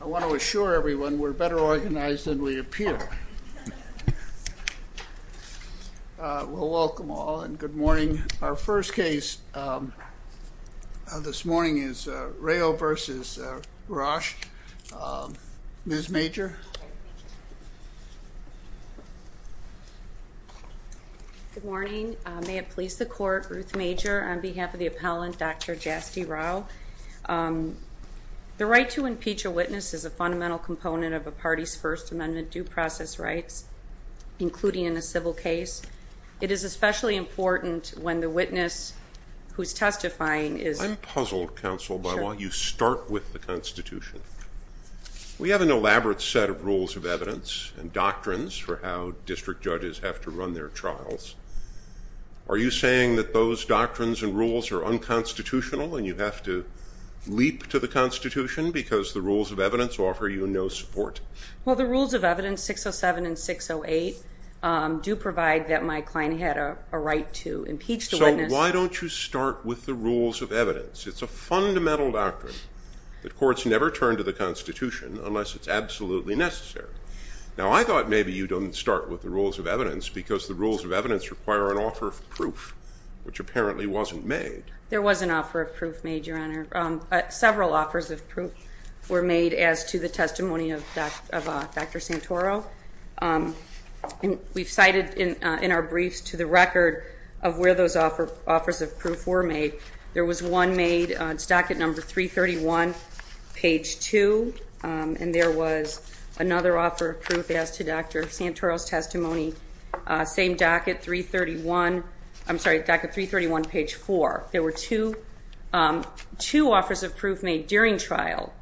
I want to assure everyone we're better organized than we appear. We'll welcome all and good morning. Our first case this morning is Rao v. Rusch. Ms. Major. Good morning. May it please the court, Ruth Major, on behalf of the appellant Dr. Jasti Rao. The right to impeach a witness is a fundamental component of a party's First Amendment due process rights, including in a civil case. It is especially important when the witness who's testifying is... I'm puzzled, counsel, by why you start with the Constitution. We have an elaborate set of rules of evidence and doctrines for how district judges have to run their trials. Are you saying that those doctrines and rules are unconstitutional and you have to leap to the Constitution because the rules of evidence offer you no support? Well, the rules of evidence, 607 and 608, do provide that my client had a right to impeach the witness. So why don't you start with the rules of evidence? It's a fundamental doctrine that courts never turn to the Constitution unless it's absolutely necessary. Now, I thought maybe you didn't start with the rules of evidence because the rules of evidence require an offer of proof, which apparently wasn't made. There was an offer of proof made, Your Honor. Several offers of proof were made as to the testimony of Dr. Santoro. And we've cited in our briefs to the record of where those offers of proof were made. There was one made, it's docket number 331, page 2, and there was another offer of proof as to Dr. Santoro's testimony, same docket 331, I'm sorry, docket 331, page 4. There were two offers of proof made during trial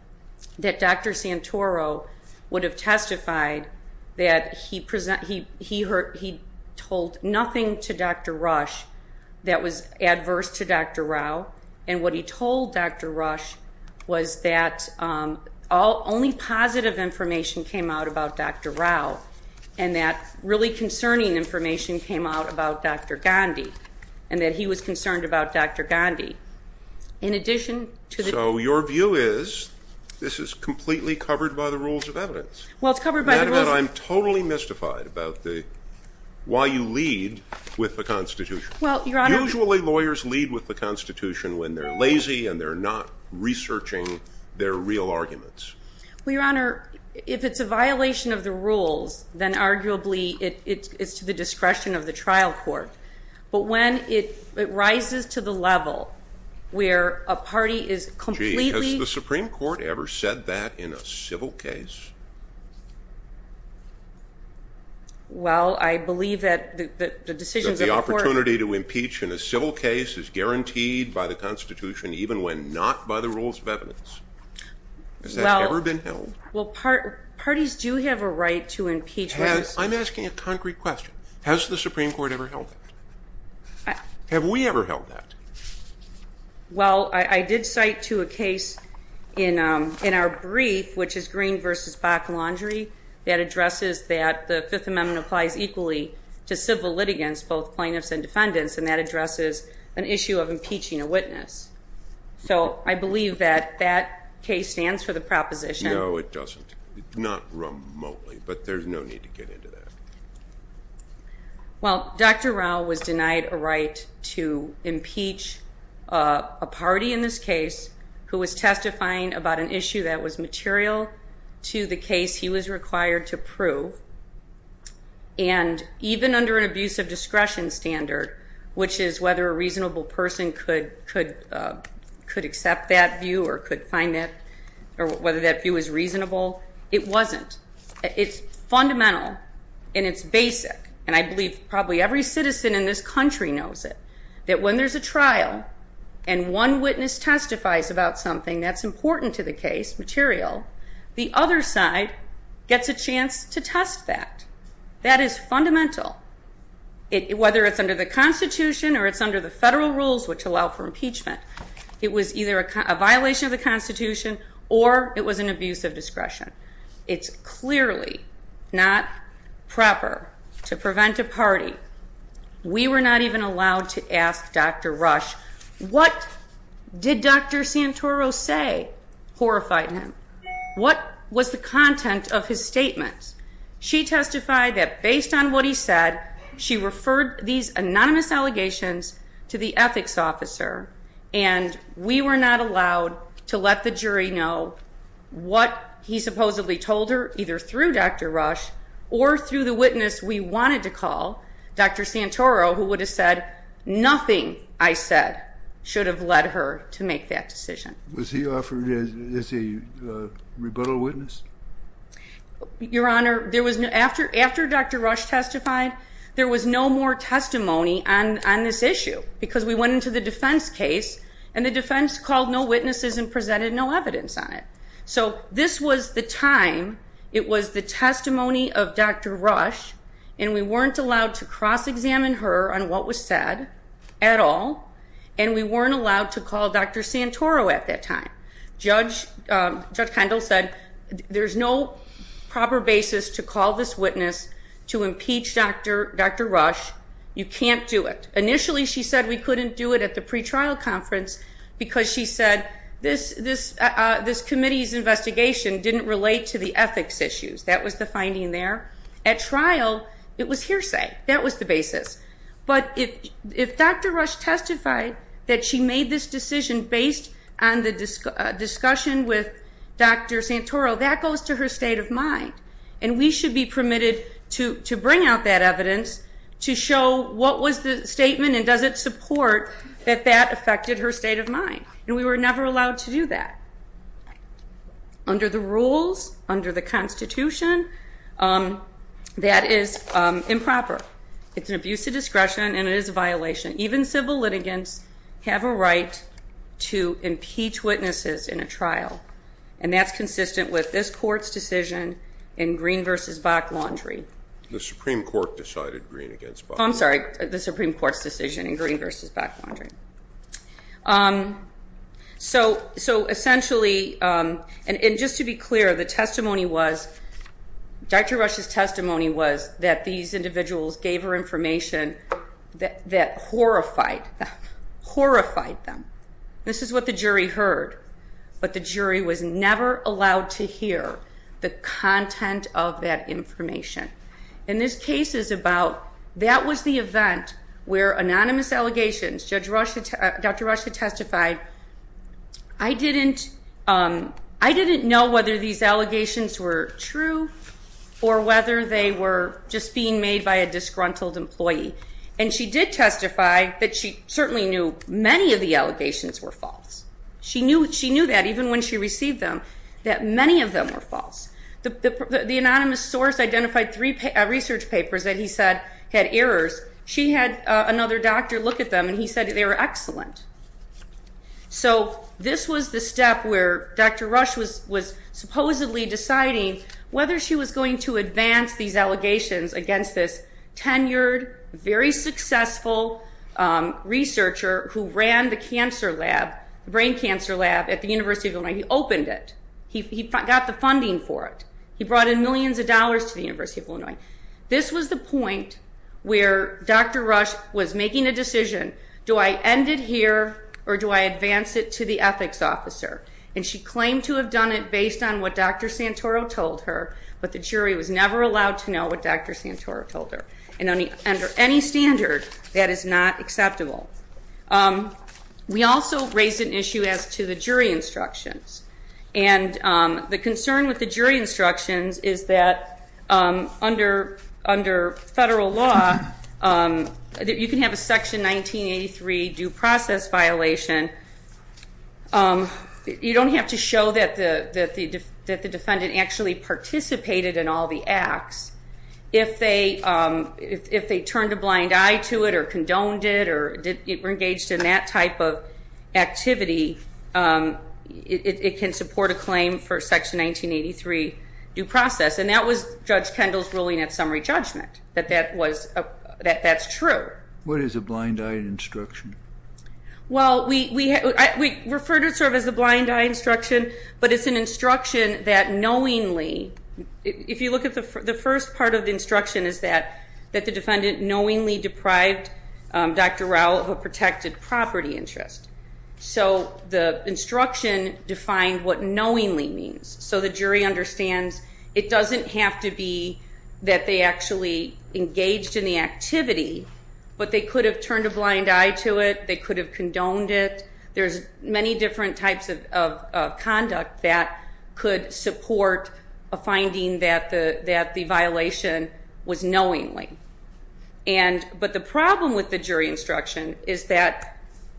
that Dr. Santoro would have testified that he told nothing to Dr. Rush that was adverse to Dr. Rao, and what he told Dr. Rush was that only positive information came out about Dr. Rao, and that really concerning information came out about Dr. Gandhi, and that he was concerned about Dr. Gandhi. So your view is, this is completely covered by the rules of evidence. Well, it's covered by the rules of evidence. And I'm totally mystified about why you lead with the Constitution. Well, Your Honor. Usually lawyers lead with the Constitution when they're lazy and they're not researching their real arguments. Well, Your Honor, if it's a violation of the rules, then arguably it's to the discretion of the trial court. But when it rises to the level where a party is completely... Gee, has the Supreme Court ever said that in a civil case? Well, I believe that the decisions of the court... In a civil case is guaranteed by the Constitution, even when not by the rules of evidence. Has that ever been held? Well, parties do have a right to impeach others. I'm asking a concrete question. Has the Supreme Court ever held that? Have we ever held that? Well, I did cite to a case in our brief, which is Green v. Bakkelandry, that addresses that the Fifth Amendment applies equally to civil litigants, both plaintiffs and defendants, and that addresses an issue of impeaching a witness. So I believe that that case stands for the proposition... No, it doesn't. Not remotely, but there's no need to get into that. Well, Dr. Rao was denied a right to impeach a party in this case who was testifying about an issue that was material to the case he was required to prove. And even under an abuse of discretion standard, which is whether a reasonable person could accept that view or could find that... Or whether that view is reasonable, it wasn't. It's fundamental and it's basic, and I believe probably every citizen in this country knows it, that when there's a trial and one witness testifies about something that's important to the case, material, the other side gets a chance to test that. That is fundamental, whether it's under the Constitution or it's under the federal rules which allow for impeachment. It was either a violation of the Constitution or it was an abuse of discretion. We were not even allowed to ask Dr. Rush, what did Dr. Santoro say horrified him? What was the content of his statements? She testified that based on what he said, she referred these anonymous allegations to the ethics officer, and we were not allowed to let the jury know what he supposedly told her either through Dr. Rush or through the witness we wanted to call, Dr. Santoro, who would have said, nothing I said should have led her to make that decision. Was he offered as a rebuttal witness? Your Honor, after Dr. Rush testified, there was no more testimony on this issue because we went into the defense case and the defense called no witnesses and presented no evidence on it. So this was the time, it was the testimony of Dr. Rush, and we weren't allowed to cross-examine her on what was said at all, and we weren't allowed to call Dr. Santoro at that time. Judge Kendall said, there's no proper basis to call this witness to impeach Dr. Rush. You can't do it. Initially, she said we couldn't do it at the pretrial conference because she said, this committee's investigation didn't relate to the ethics issues. That was the finding there. At trial, it was hearsay. That was the basis. But if Dr. Rush testified that she made this decision based on the discussion with Dr. Santoro, that goes to her state of mind, and we should be permitted to bring out that evidence to show what was the statement and does it support that that affected her state of mind, and we were never allowed to do that. Under the rules, under the Constitution, that is improper. It's an abuse of discretion and it is a violation. Even civil litigants have a right to impeach witnesses in a trial, and that's consistent with this court's decision in Green v. Bach-Laundrie. The Supreme Court decided Green against Bach-Laundrie. I'm sorry. The Supreme Court's decision in Green v. Bach-Laundrie. So essentially, and just to be clear, the testimony was, Dr. Rush's testimony was that these individuals gave her information that horrified them. This is what the jury heard, but the jury was never allowed to hear the content of that information. And this case is about, that was the event where anonymous allegations, Dr. Rush had testified, I didn't know whether these allegations were true or whether they were just being made by a disgruntled employee. And she did testify that she certainly knew many of the allegations were false. She knew that even when she received them, that many of them were false. The anonymous source identified three research papers that he said had errors. She had another doctor look at them, and he said they were excellent. So this was the step where Dr. Rush was supposedly deciding whether she was going to advance these allegations against this tenured, very successful researcher who ran the brain cancer lab at the University of Illinois. He opened it. He got the funding for it. He brought in millions of dollars to the University of Illinois. This was the point where Dr. Rush was making a decision, do I end it here or do I advance it to the ethics officer? And she claimed to have done it based on what Dr. Santoro told her, but the jury was never allowed to know what Dr. Santoro told her. And under any standard, that is not acceptable. We also raised an issue as to the jury instructions. And the concern with the jury instructions is that under federal law, you can have a Section 1983 due process violation. You don't have to show that the defendant actually participated in all the acts. If they turned a blind eye to it or condoned it or were engaged in that type of activity, it can support a claim for Section 1983 due process. And that was Judge Kendall's ruling at summary judgment, that that's true. What is a blind eye instruction? Well, we refer to it sort of as a blind eye instruction, but it's an instruction that the first part of the instruction is that the defendant knowingly deprived Dr. Rao of a protected property interest. So the instruction defined what knowingly means. So the jury understands it doesn't have to be that they actually engaged in the activity, but they could have turned a blind eye to it, they could have condoned it. There's many different types of conduct that could support a finding that the violation was knowingly. But the problem with the jury instruction is that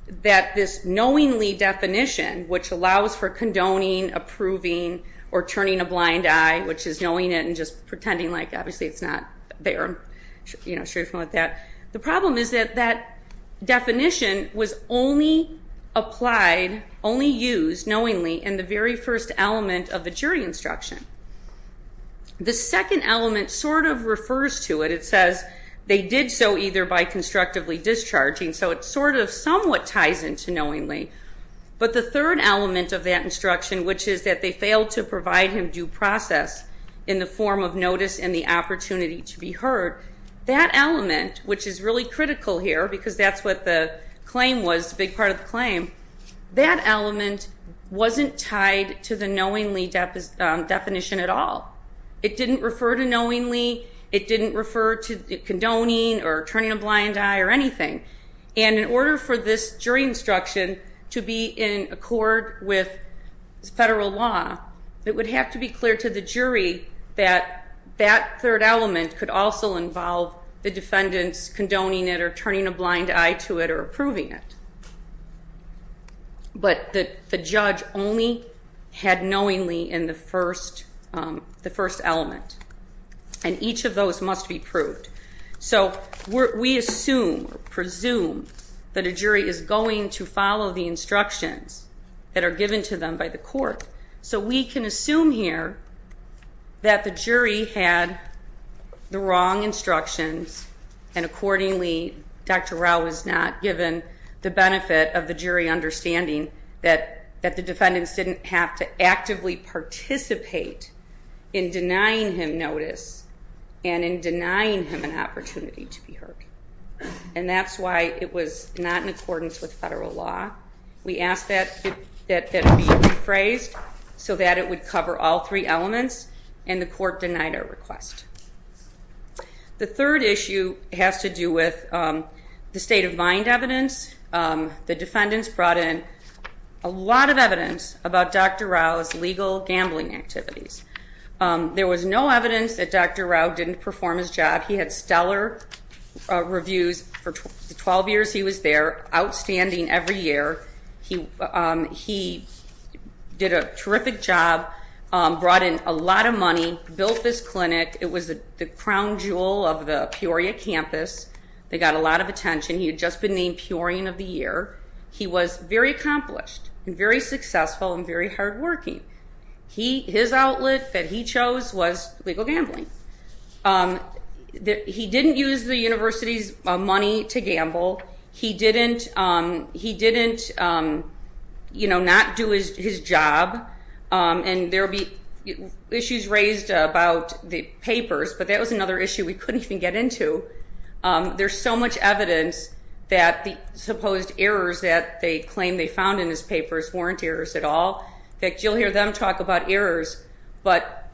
this knowingly definition, which allows for condoning, approving, or turning a blind eye, which is knowing it and just pretending like obviously it's not there, I'm sure you're familiar with that. The problem is that that definition was only applied, only used knowingly in the very first element of the jury instruction. The second element sort of refers to it. It says they did so either by constructively discharging, so it sort of somewhat ties into knowingly. But the third element of that instruction, which is that they failed to provide him due process in the form of notice and the opportunity to be heard. That element, which is really critical here because that's what the claim was, big part of the claim, that element wasn't tied to the knowingly definition at all. It didn't refer to knowingly, it didn't refer to condoning or turning a blind eye or anything. And in order for this jury instruction to be in accord with federal law, it would have to be clear to the jury that that third element could also involve the defendants condoning it or turning a blind eye to it or approving it. But the judge only had knowingly in the first element. And each of those must be proved. So we assume or presume that a jury is going to follow the instructions that are given to them by the court. So we can assume here that the jury had the wrong instructions. And accordingly, Dr. Rao was not given the benefit of the jury understanding that the defendants didn't have to actively participate in denying him notice. And in denying him an opportunity to be heard. And that's why it was not in accordance with federal law. We asked that it be rephrased so that it would cover all three elements. And the court denied our request. The third issue has to do with the state of mind evidence. The defendants brought in a lot of evidence about Dr. Rao's legal gambling activities. There was no evidence that Dr. Rao didn't perform his job. He had stellar reviews for 12 years he was there, outstanding every year. He did a terrific job, brought in a lot of money, built this clinic. It was the crown jewel of the Peoria campus. They got a lot of attention. He had just been named Peorian of the Year. He was very accomplished and very successful and very hard working. His outlet that he chose was legal gambling. He didn't use the university's money to gamble. He didn't not do his job. And there'll be issues raised about the papers, but that was another issue we couldn't even get into. There's so much evidence that the supposed errors that they claim they found in his papers weren't errors at all. That you'll hear them talk about errors. But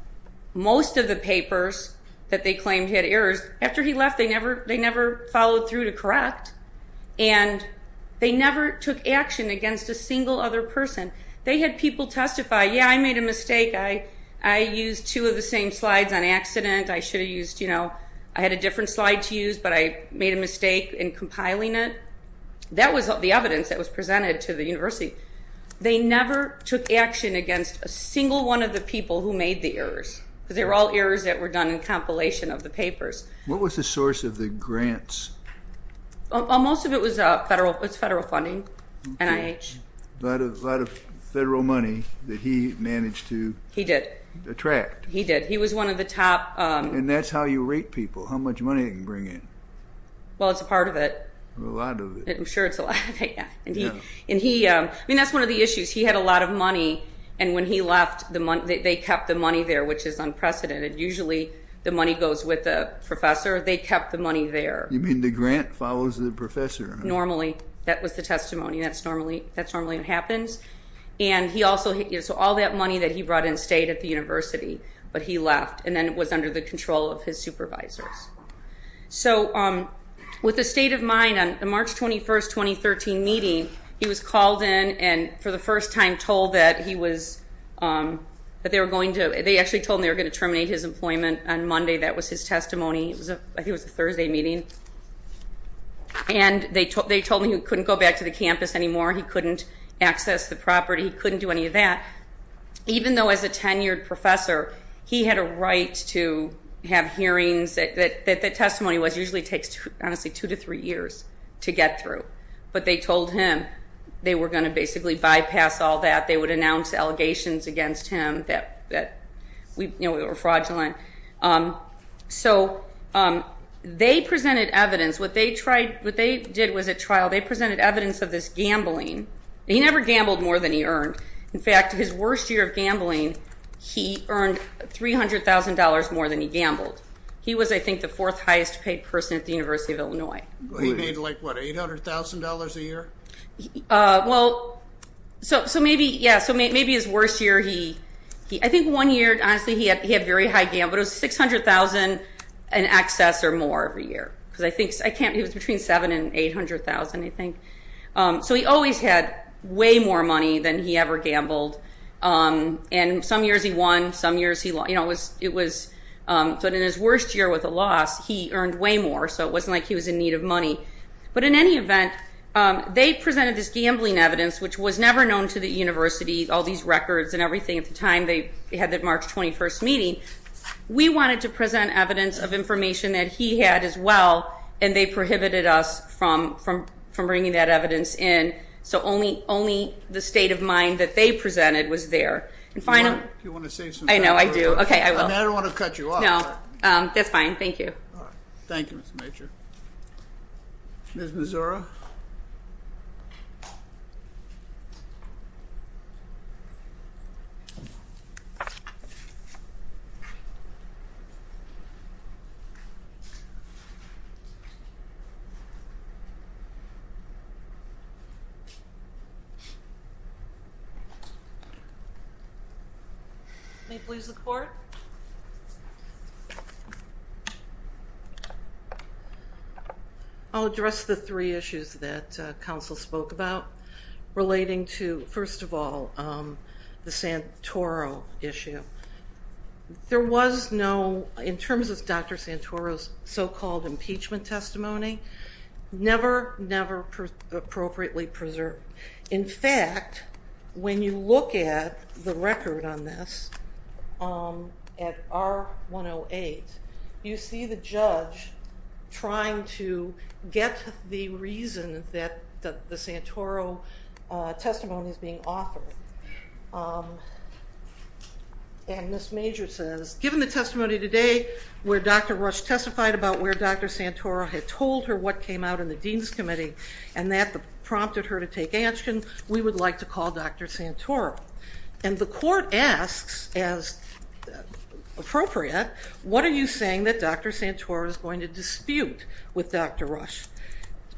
most of the papers that they claimed had errors, after he left, they never followed through to correct. And they never took action against a single other person. They had people testify, yeah, I made a mistake, I used two of the same slides on accident. I should have used, I had a different slide to use, but I made a mistake in compiling it. That was the evidence that was presented to the university. They never took action against a single one of the people who made the errors. Because they were all errors that were done in compilation of the papers. What was the source of the grants? Most of it was federal funding, NIH. A lot of federal money that he managed to attract. He did, he was one of the top- And that's how you rate people, how much money they can bring in. Well, it's a part of it. A lot of it. I'm sure it's a lot of it, yeah. And he, I mean, that's one of the issues. He had a lot of money, and when he left, they kept the money there, which is unprecedented. Usually, the money goes with the professor. They kept the money there. You mean the grant follows the professor? Normally, that was the testimony. That's normally what happens. And he also, so all that money that he brought in stayed at the university. But he left, and then it was under the control of his supervisors. So, with a state of mind, on the March 21st, 2013 meeting, he was called in and, for the first time, told that he was, that they were going to, they actually told him they were going to terminate his employment on Monday. That was his testimony. It was a, I think it was a Thursday meeting. And they told me he couldn't go back to the campus anymore. He couldn't access the property. He couldn't do any of that. Even though, as a tenured professor, he had a right to have hearings, that the testimony was usually takes, honestly, two to three years to get through. But they told him they were going to basically bypass all that. They would announce allegations against him that we were fraudulent. So, they presented evidence. What they tried, what they did was a trial. They presented evidence of this gambling. He never gambled more than he earned. In fact, his worst year of gambling, he earned $300,000 more than he gambled. He was, I think, the fourth highest paid person at the University of Illinois. He made, like, what, $800,000 a year? Well, so maybe, yeah, so maybe his worst year, he, I think one year, honestly, he had very high gambling, but it was 600,000 and excess or more every year. Because I think, I can't, it was between seven and 800,000, I think. So he always had way more money than he ever gambled. And some years he won, some years he, it was, but in his worst year with a loss, he earned way more, so it wasn't like he was in need of money. But in any event, they presented this gambling evidence, which was never known to the university, all these records and everything at the time they had that March 21st meeting. We wanted to present evidence of information that he had as well, and they prohibited us from bringing that evidence in. So only the state of mind that they presented was there. And finally- Do you want to say something? I know, I do. Okay, I will. And I don't want to cut you off. No, that's fine. Thank you. Thank you, Mr. Major. Ms. Mazura? May it please the court? I'll address the three issues that counsel spoke about. Relating to, first of all, the Santoro issue. There was no, in terms of Dr. Santoro's so-called impeachment testimony, never, never appropriately preserved. In fact, when you look at the record on this, at R108, you see the judge trying to get the reason that the Santoro testimony is being offered. And Ms. Major says, given the testimony today, where Dr. Rush testified about where Dr. Santoro had told her what came out in the dean's committee, and that prompted her to take action, we would like to call Dr. Santoro. And the court asks, as appropriate, what are you saying that Dr. Santoro is going to dispute with Dr. Rush?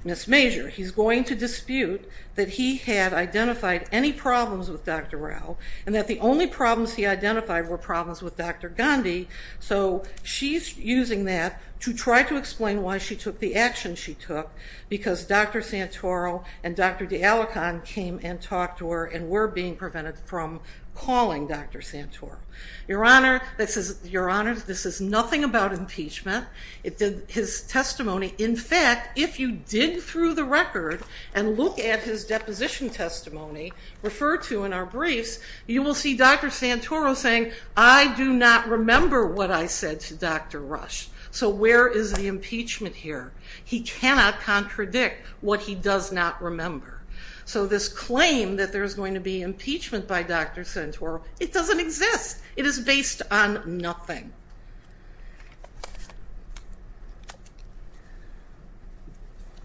Ms. Major, he's going to dispute that he had identified any problems with Dr. Rao, and that the only problems he identified were problems with Dr. Gandhi. So she's using that to try to explain why she took the action she took, because Dr. Santoro and Dr. DeAlecan came and talked to her, and were being prevented from calling Dr. Santoro. Your Honor, this is nothing about impeachment. It did his testimony. In fact, if you dig through the record and look at his deposition testimony, referred to in our briefs, you will see Dr. Santoro saying, I do not remember what I said to Dr. Rush. So where is the impeachment here? He cannot contradict what he does not remember. So this claim that there's going to be impeachment by Dr. Santoro, it doesn't exist. It is based on nothing.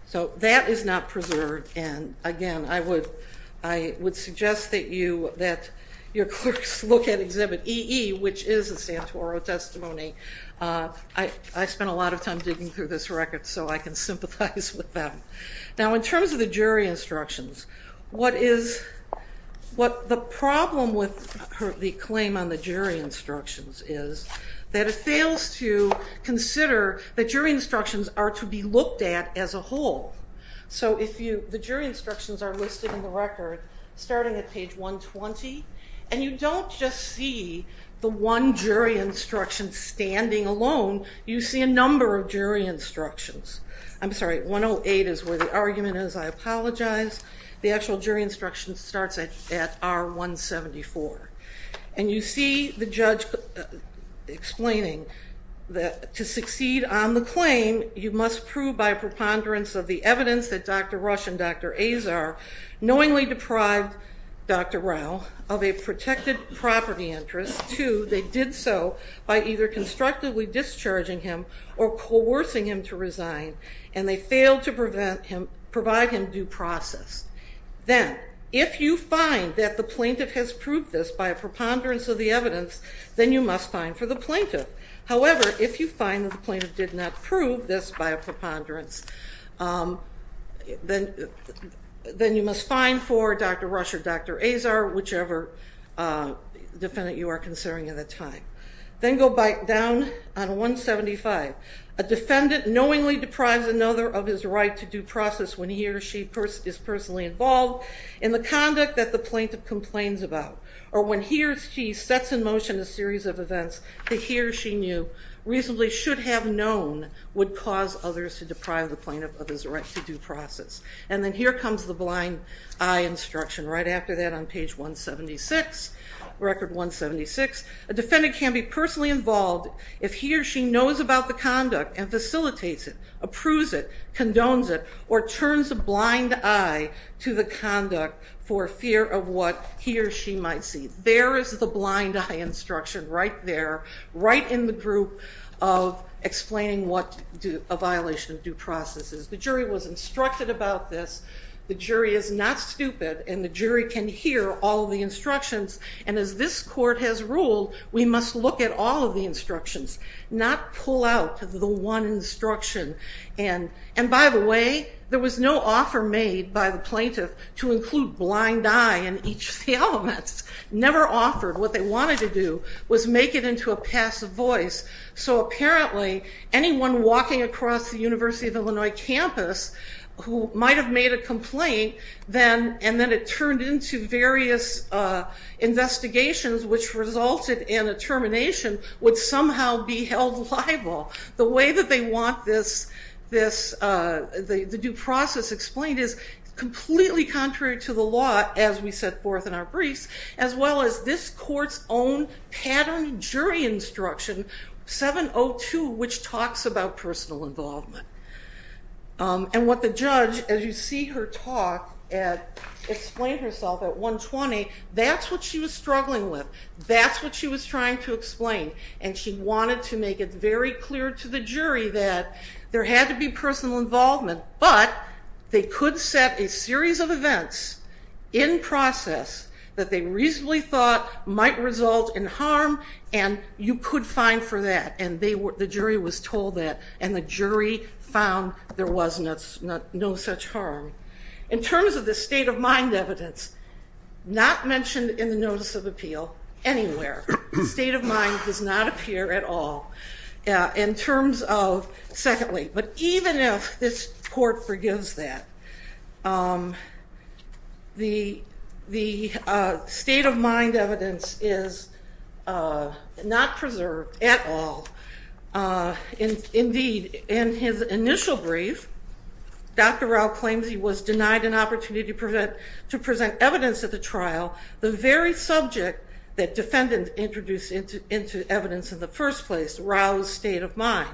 So that is not preserved, and again, I would suggest that your clerks look at Exhibit EE, which is a Santoro testimony. I spent a lot of time digging through this record, so I can sympathize with them. Now, in terms of the jury instructions, what the problem with the claim on the jury instructions is that it fails to consider that jury instructions are to be looked at as a whole. So the jury instructions are listed in the record starting at page 120, and you don't just see the one jury instruction standing alone. You see a number of jury instructions. I'm sorry, 108 is where the argument is, I apologize. The actual jury instruction starts at R174. And you see the judge explaining that to succeed on the claim, you must prove by preponderance of the evidence that Dr. Rush and Dr. Azar knowingly deprived Dr. Rao of a protected property interest. Two, they did so by either constructively discharging him or coercing him to resign. And they failed to provide him due process. Then, if you find that the plaintiff has proved this by a preponderance of the evidence, then you must fine for the plaintiff. However, if you find that the plaintiff did not prove this by a preponderance, then you must fine for Dr. Rush or Dr. Azar, whichever defendant you are considering at the time. Then go back down on 175. A defendant knowingly deprives another of his right to due process when he or she is personally involved in the conduct that the plaintiff complains about. Or when he or she sets in motion a series of events that he or she knew reasonably should have known would cause others to deprive the plaintiff of his right to due process. And then here comes the blind eye instruction, right after that on page 176, a defendant can be personally involved if he or she knows about the conduct and facilitates it, approves it, condones it, or turns a blind eye to the conduct for fear of what he or she might see. There is the blind eye instruction right there, right in the group of explaining what a violation of due process is. The jury was instructed about this. The jury is not stupid, and the jury can hear all the instructions. And as this court has ruled, we must look at all of the instructions, not pull out the one instruction. And by the way, there was no offer made by the plaintiff to include blind eye in each of the elements, never offered. What they wanted to do was make it into a passive voice. So apparently, anyone walking across the University of Illinois campus who might have made a complaint, and then it turned into various investigations which resulted in a termination, would somehow be held liable. The way that they want the due process explained is completely contrary to the law, as we set forth in our briefs, as well as this court's own pattern jury instruction, 702, which talks about personal involvement. And what the judge, as you see her talk, explained herself at 120, that's what she was struggling with, that's what she was trying to explain. And she wanted to make it very clear to the jury that there had to be personal involvement, but they could set a series of events in process that they reasonably thought might result in harm, and you could fine for that. And the jury was told that, and the jury found there was no such harm. In terms of the state of mind evidence, not mentioned in the notice of appeal anywhere. The state of mind does not appear at all in terms of, secondly, but even if this court forgives that, the state of mind evidence is not preserved at all. Indeed, in his initial brief, Dr. Rao claims he was denied an opportunity to present evidence at the trial, the very subject that defendants introduced into evidence in the first place, Rao's state of mind.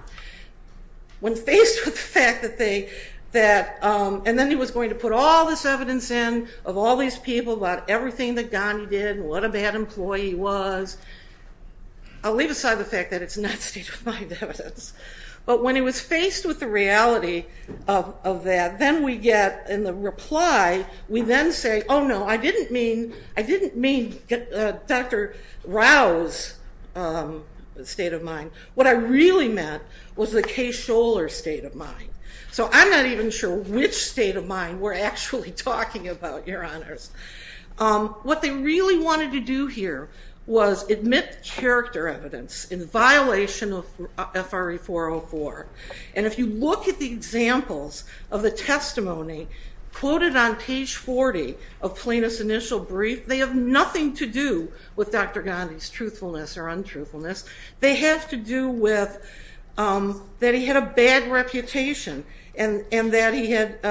When faced with the fact that they, that, and then he was going to put all this evidence in, of all these people, about everything that Gandhi did, what a bad employee he was. I'll leave aside the fact that it's not state of mind evidence. But when he was faced with the reality of that, then we get in the reply, we then say, oh no, I didn't mean, I didn't mean Dr. Rao's state of mind. What I really meant was the Kay Scholar's state of mind. So I'm not even sure which state of mind we're actually talking about, your honors. What they really wanted to do here was admit character evidence in violation of FRA 404. And if you look at the examples of the testimony quoted on page 40 of Plano's initial brief, they have nothing to do with Dr. Gandhi's truthfulness or untruthfulness. They have to do with that he had a bad reputation and that he had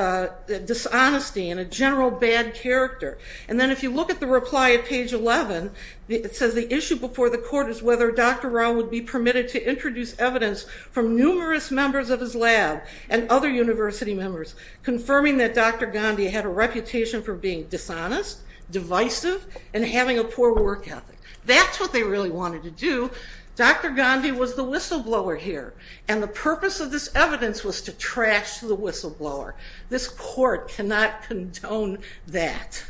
dishonesty and a general bad character. And then if you look at the reply at page 11, it says the issue before the court is whether Dr. Rao would be permitted to introduce evidence from numerous members of his lab and other university members, confirming that Dr. Gandhi had a reputation for being dishonest, divisive, and having a poor work ethic. That's what they really wanted to do. Dr. Gandhi was the whistleblower here. And the purpose of this evidence was to trash the whistleblower. This court cannot condone that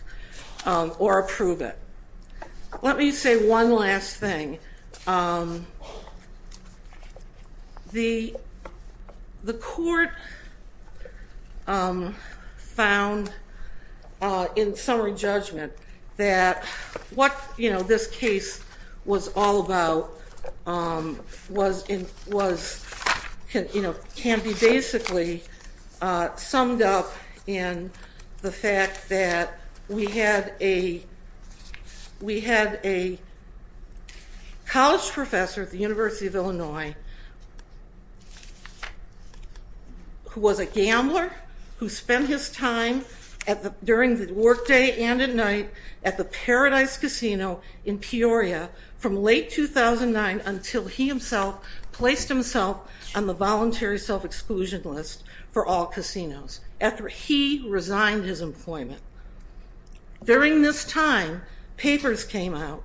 or approve it. Let me say one last thing. The court found in summary judgment that what, this case was all about, can be basically summed up in the fact that we had a college professor at the University of Illinois, who was a gambler, who spent his time during the work day and night at the Paradise Casino in Peoria from late 2009 until he himself placed himself on the voluntary self-exclusion list for all casinos. After he resigned his employment. During this time, papers came out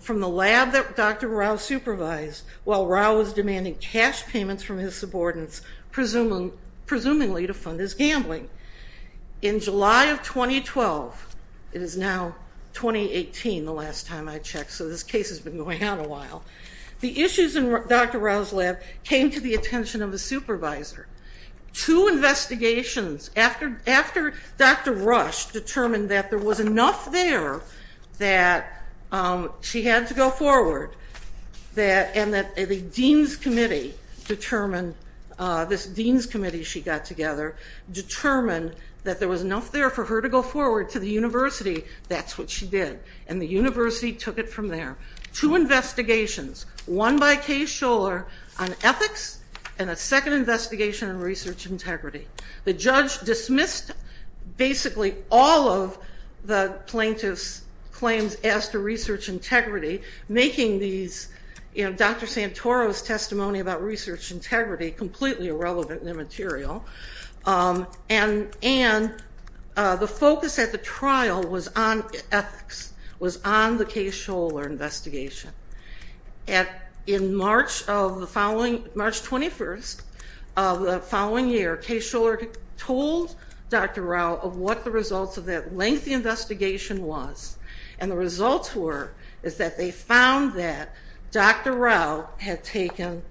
from the lab that Dr. Rao supervised while Rao was demanding cash payments from his subordinates, presumably to fund his gambling. In July of 2012, it is now 2018, the last time I checked, so this case has been going on a while. The issues in Dr. Rao's lab came to the attention of the supervisor. Two investigations after Dr. Rush determined that there was enough there that she had to go forward, and that the dean's committee determined, this dean's committee she got together, determined that there was enough there for her to go forward to the university, that's what she did. And the university took it from there. Two investigations, one by Kay Schuller on ethics, and a second investigation on research integrity. The judge dismissed basically all of the plaintiff's claims as to research integrity, making these, you know, Dr. Santoro's testimony about research integrity completely irrelevant and immaterial. And the focus at the trial was on ethics, was on the Kay Schuller investigation. In March of the following, March 21st of the following year, Kay Schuller told Dr. Rao of what the results of that lengthy investigation was. And the results were, is that they found that Dr. Rao had taken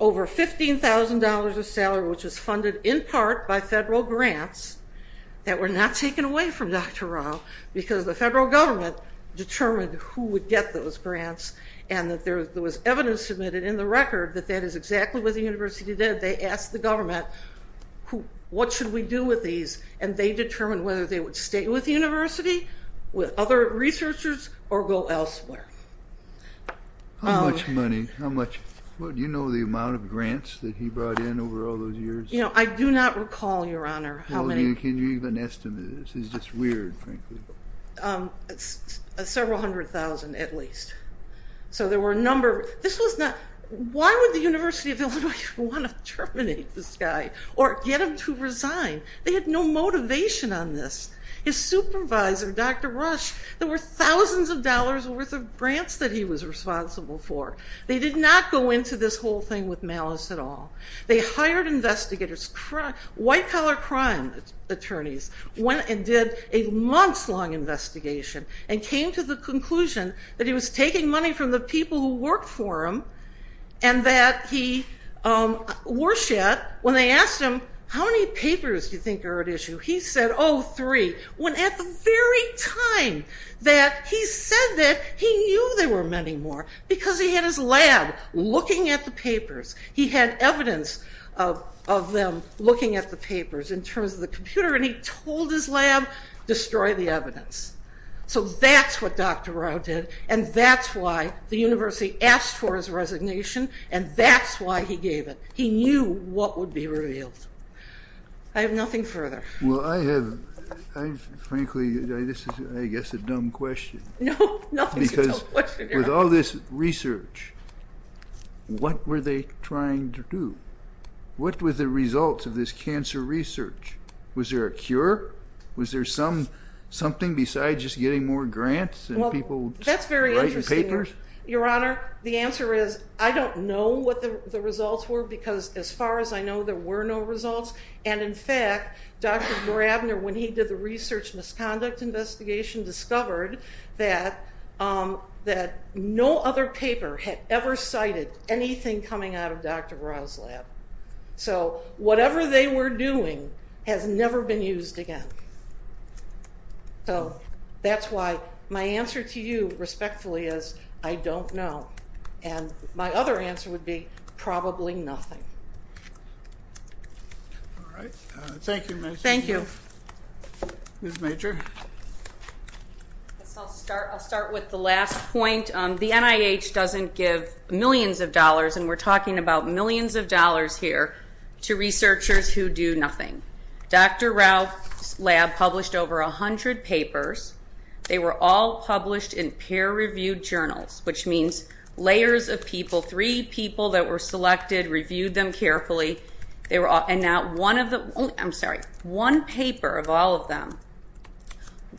over $15,000 of salary, which was funded in part by federal grants, that were not taken away from Dr. Rao. Because the federal government determined who would get those grants, and that there was evidence submitted in the record that that is exactly what the university did. They asked the government, what should we do with these? And they determined whether they would stay with the university, with other researchers, or go elsewhere. How much money? How much, do you know the amount of grants that he brought in over all those years? You know, I do not recall, your honor, how many. Can you even estimate this? It's just weird, frankly. Several hundred thousand, at least. So there were a number, this was not, why would the University of Illinois want to terminate this guy, or get him to resign? They had no motivation on this. His supervisor, Dr. Rush, there were thousands of dollars worth of grants that he was responsible for. They did not go into this whole thing with malice at all. They hired investigators, white collar crime attorneys, went and did a months long investigation, and came to the conclusion that he was taking money from the people who worked for him, and that he, Warshad, when they asked him, how many papers do you think are at issue? He said, three, when at the very time that he said that, he knew there were many more, because he had his lab looking at the papers. He had evidence of them looking at the papers in terms of the computer, and he told his lab, destroy the evidence. So that's what Dr. Rao did, and that's why the university asked for his resignation, and that's why he gave it. He knew what would be revealed. I have nothing further. Well, I have, frankly, this is, I guess, a dumb question. No, nothing's a dumb question, Your Honor. Because with all this research, what were they trying to do? What were the results of this cancer research? Was there a cure? Was there something besides just getting more grants and people writing papers? Well, that's very interesting, Your Honor. The answer is, I don't know what the results were, because as far as I know, there were no results. And in fact, Dr. Brabner, when he did the research misconduct investigation, discovered that no other paper had ever cited anything coming out of Dr. Rao's lab. So whatever they were doing has never been used again. So that's why my answer to you respectfully is, I don't know. And my other answer would be, probably nothing. All right, thank you, Ms. Major. Thank you. Ms. Major. I'll start with the last point. The NIH doesn't give millions of dollars, and we're talking about millions of dollars here, to researchers who do nothing. Dr. Rao's lab published over 100 papers. They were all published in peer-reviewed journals, which means layers of people, three people that were selected, reviewed them carefully. And not one of the, I'm sorry, one paper of all of them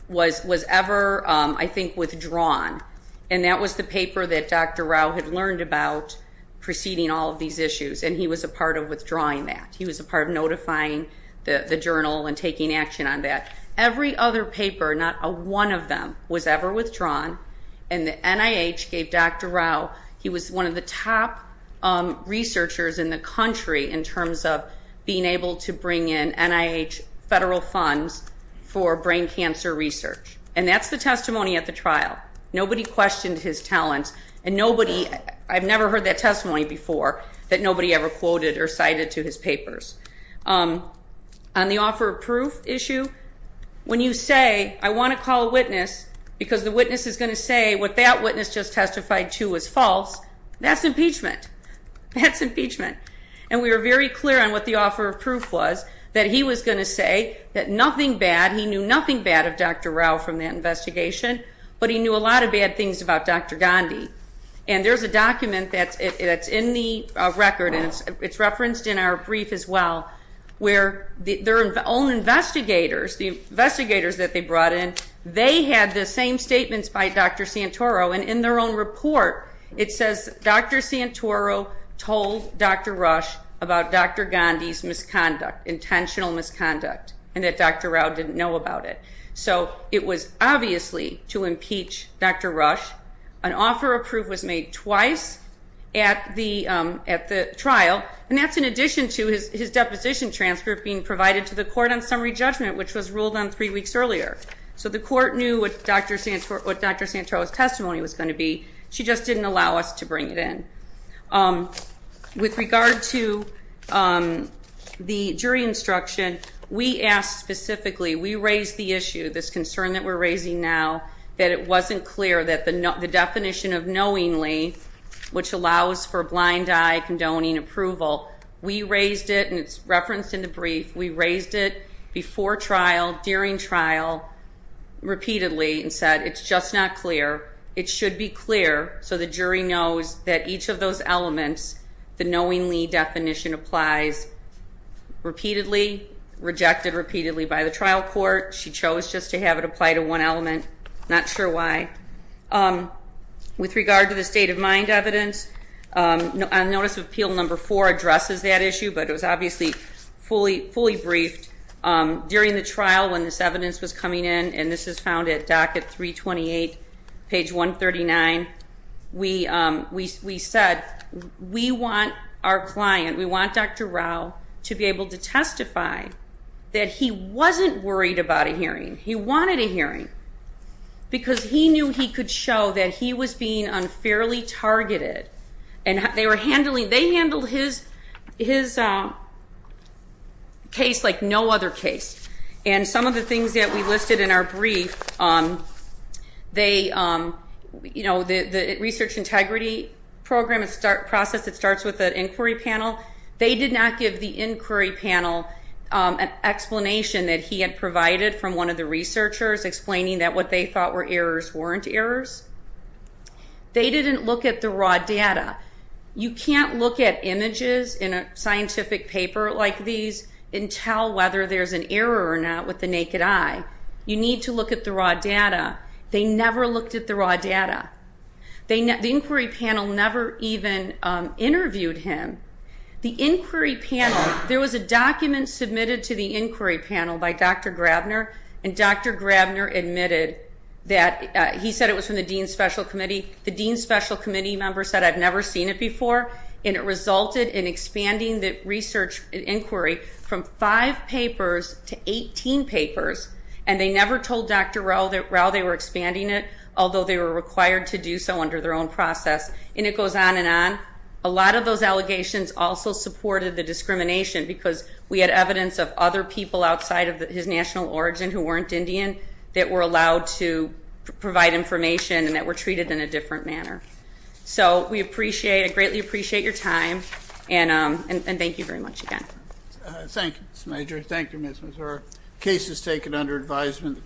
was ever, I think, withdrawn. And that was the paper that Dr. Rao had learned about preceding all of these issues. And he was a part of withdrawing that. He was a part of notifying the journal and taking action on that. Every other paper, not one of them, was ever withdrawn. And the NIH gave Dr. Rao, he was one of the top researchers in the country in terms of being able to bring in NIH federal funds for brain cancer research. And that's the testimony at the trial. Nobody questioned his talents. And nobody, I've never heard that testimony before, that nobody ever quoted or cited to his papers. On the offer of proof issue, when you say, I want to call a witness, because the witness is going to say what that witness just testified to is false, that's impeachment. That's impeachment. And we were very clear on what the offer of proof was, that he was going to say that nothing bad, he knew nothing bad of Dr. Rao from that investigation, but he knew a lot of bad things about Dr. Gandhi. And there's a document that's in the record, and it's referenced in our brief as well, where their own investigators, the investigators that they brought in, they had the same statements by Dr. Santoro. And in their own report, it says Dr. Santoro told Dr. Rush about Dr. Gandhi's misconduct, intentional misconduct, and that Dr. Rao didn't know about it. So it was obviously to impeach Dr. Rush. An offer of proof was made twice at the trial, and that's in addition to his deposition transcript being provided to the court on summary judgment, which was ruled on three weeks earlier. So the court knew what Dr. Santoro's testimony was going to be, she just didn't allow us to bring it in. With regard to the jury instruction, we asked specifically, we raised the issue, this concern that we're raising now, that it wasn't clear that the definition of knowingly, which allows for blind eye condoning approval, we raised it, and it's referenced in the brief. We raised it before trial, during trial, repeatedly, and said it's just not clear. It should be clear so the jury knows that each of those elements, the knowingly definition applies repeatedly, rejected repeatedly by the trial court. She chose just to have it apply to one element, not sure why. With regard to the state of mind evidence, notice of appeal number four addresses that issue, but it was obviously fully briefed during the trial when this evidence was coming in, and this is found at docket 328, page 139. We said, we want our client, we want Dr. Rao, to be able to testify that he wasn't worried about a hearing. He wanted a hearing, because he knew he could show that he was being unfairly targeted. And they were handling, they handled his case like no other case. And some of the things that we listed in our brief, the research integrity program, it's a process that starts with an inquiry panel. They did not give the inquiry panel an explanation that he had provided from one of the researchers, explaining that what they thought were errors weren't errors. They didn't look at the raw data. You can't look at images in a scientific paper like these and tell whether there's an error or not with the naked eye. You need to look at the raw data. They never looked at the raw data. The inquiry panel never even interviewed him. The inquiry panel, there was a document submitted to the inquiry panel by Dr. Grabner, and Dr. Grabner admitted that, he said it was from the Dean's Special Committee. The Dean's Special Committee member said, I've never seen it before. And it resulted in expanding the research inquiry from five papers to 18 papers. And they never told Dr. Rao that they were expanding it, although they were required to do so under their own process. And it goes on and on. A lot of those allegations also supported the discrimination, because we had evidence of other people outside of his national origin who weren't Indian, that were allowed to provide information, and that were treated in a different manner. So we greatly appreciate your time, and thank you very much again. Thank you, Ms. Major. Thank you, Ms. Mazur. Case is taken under advisement.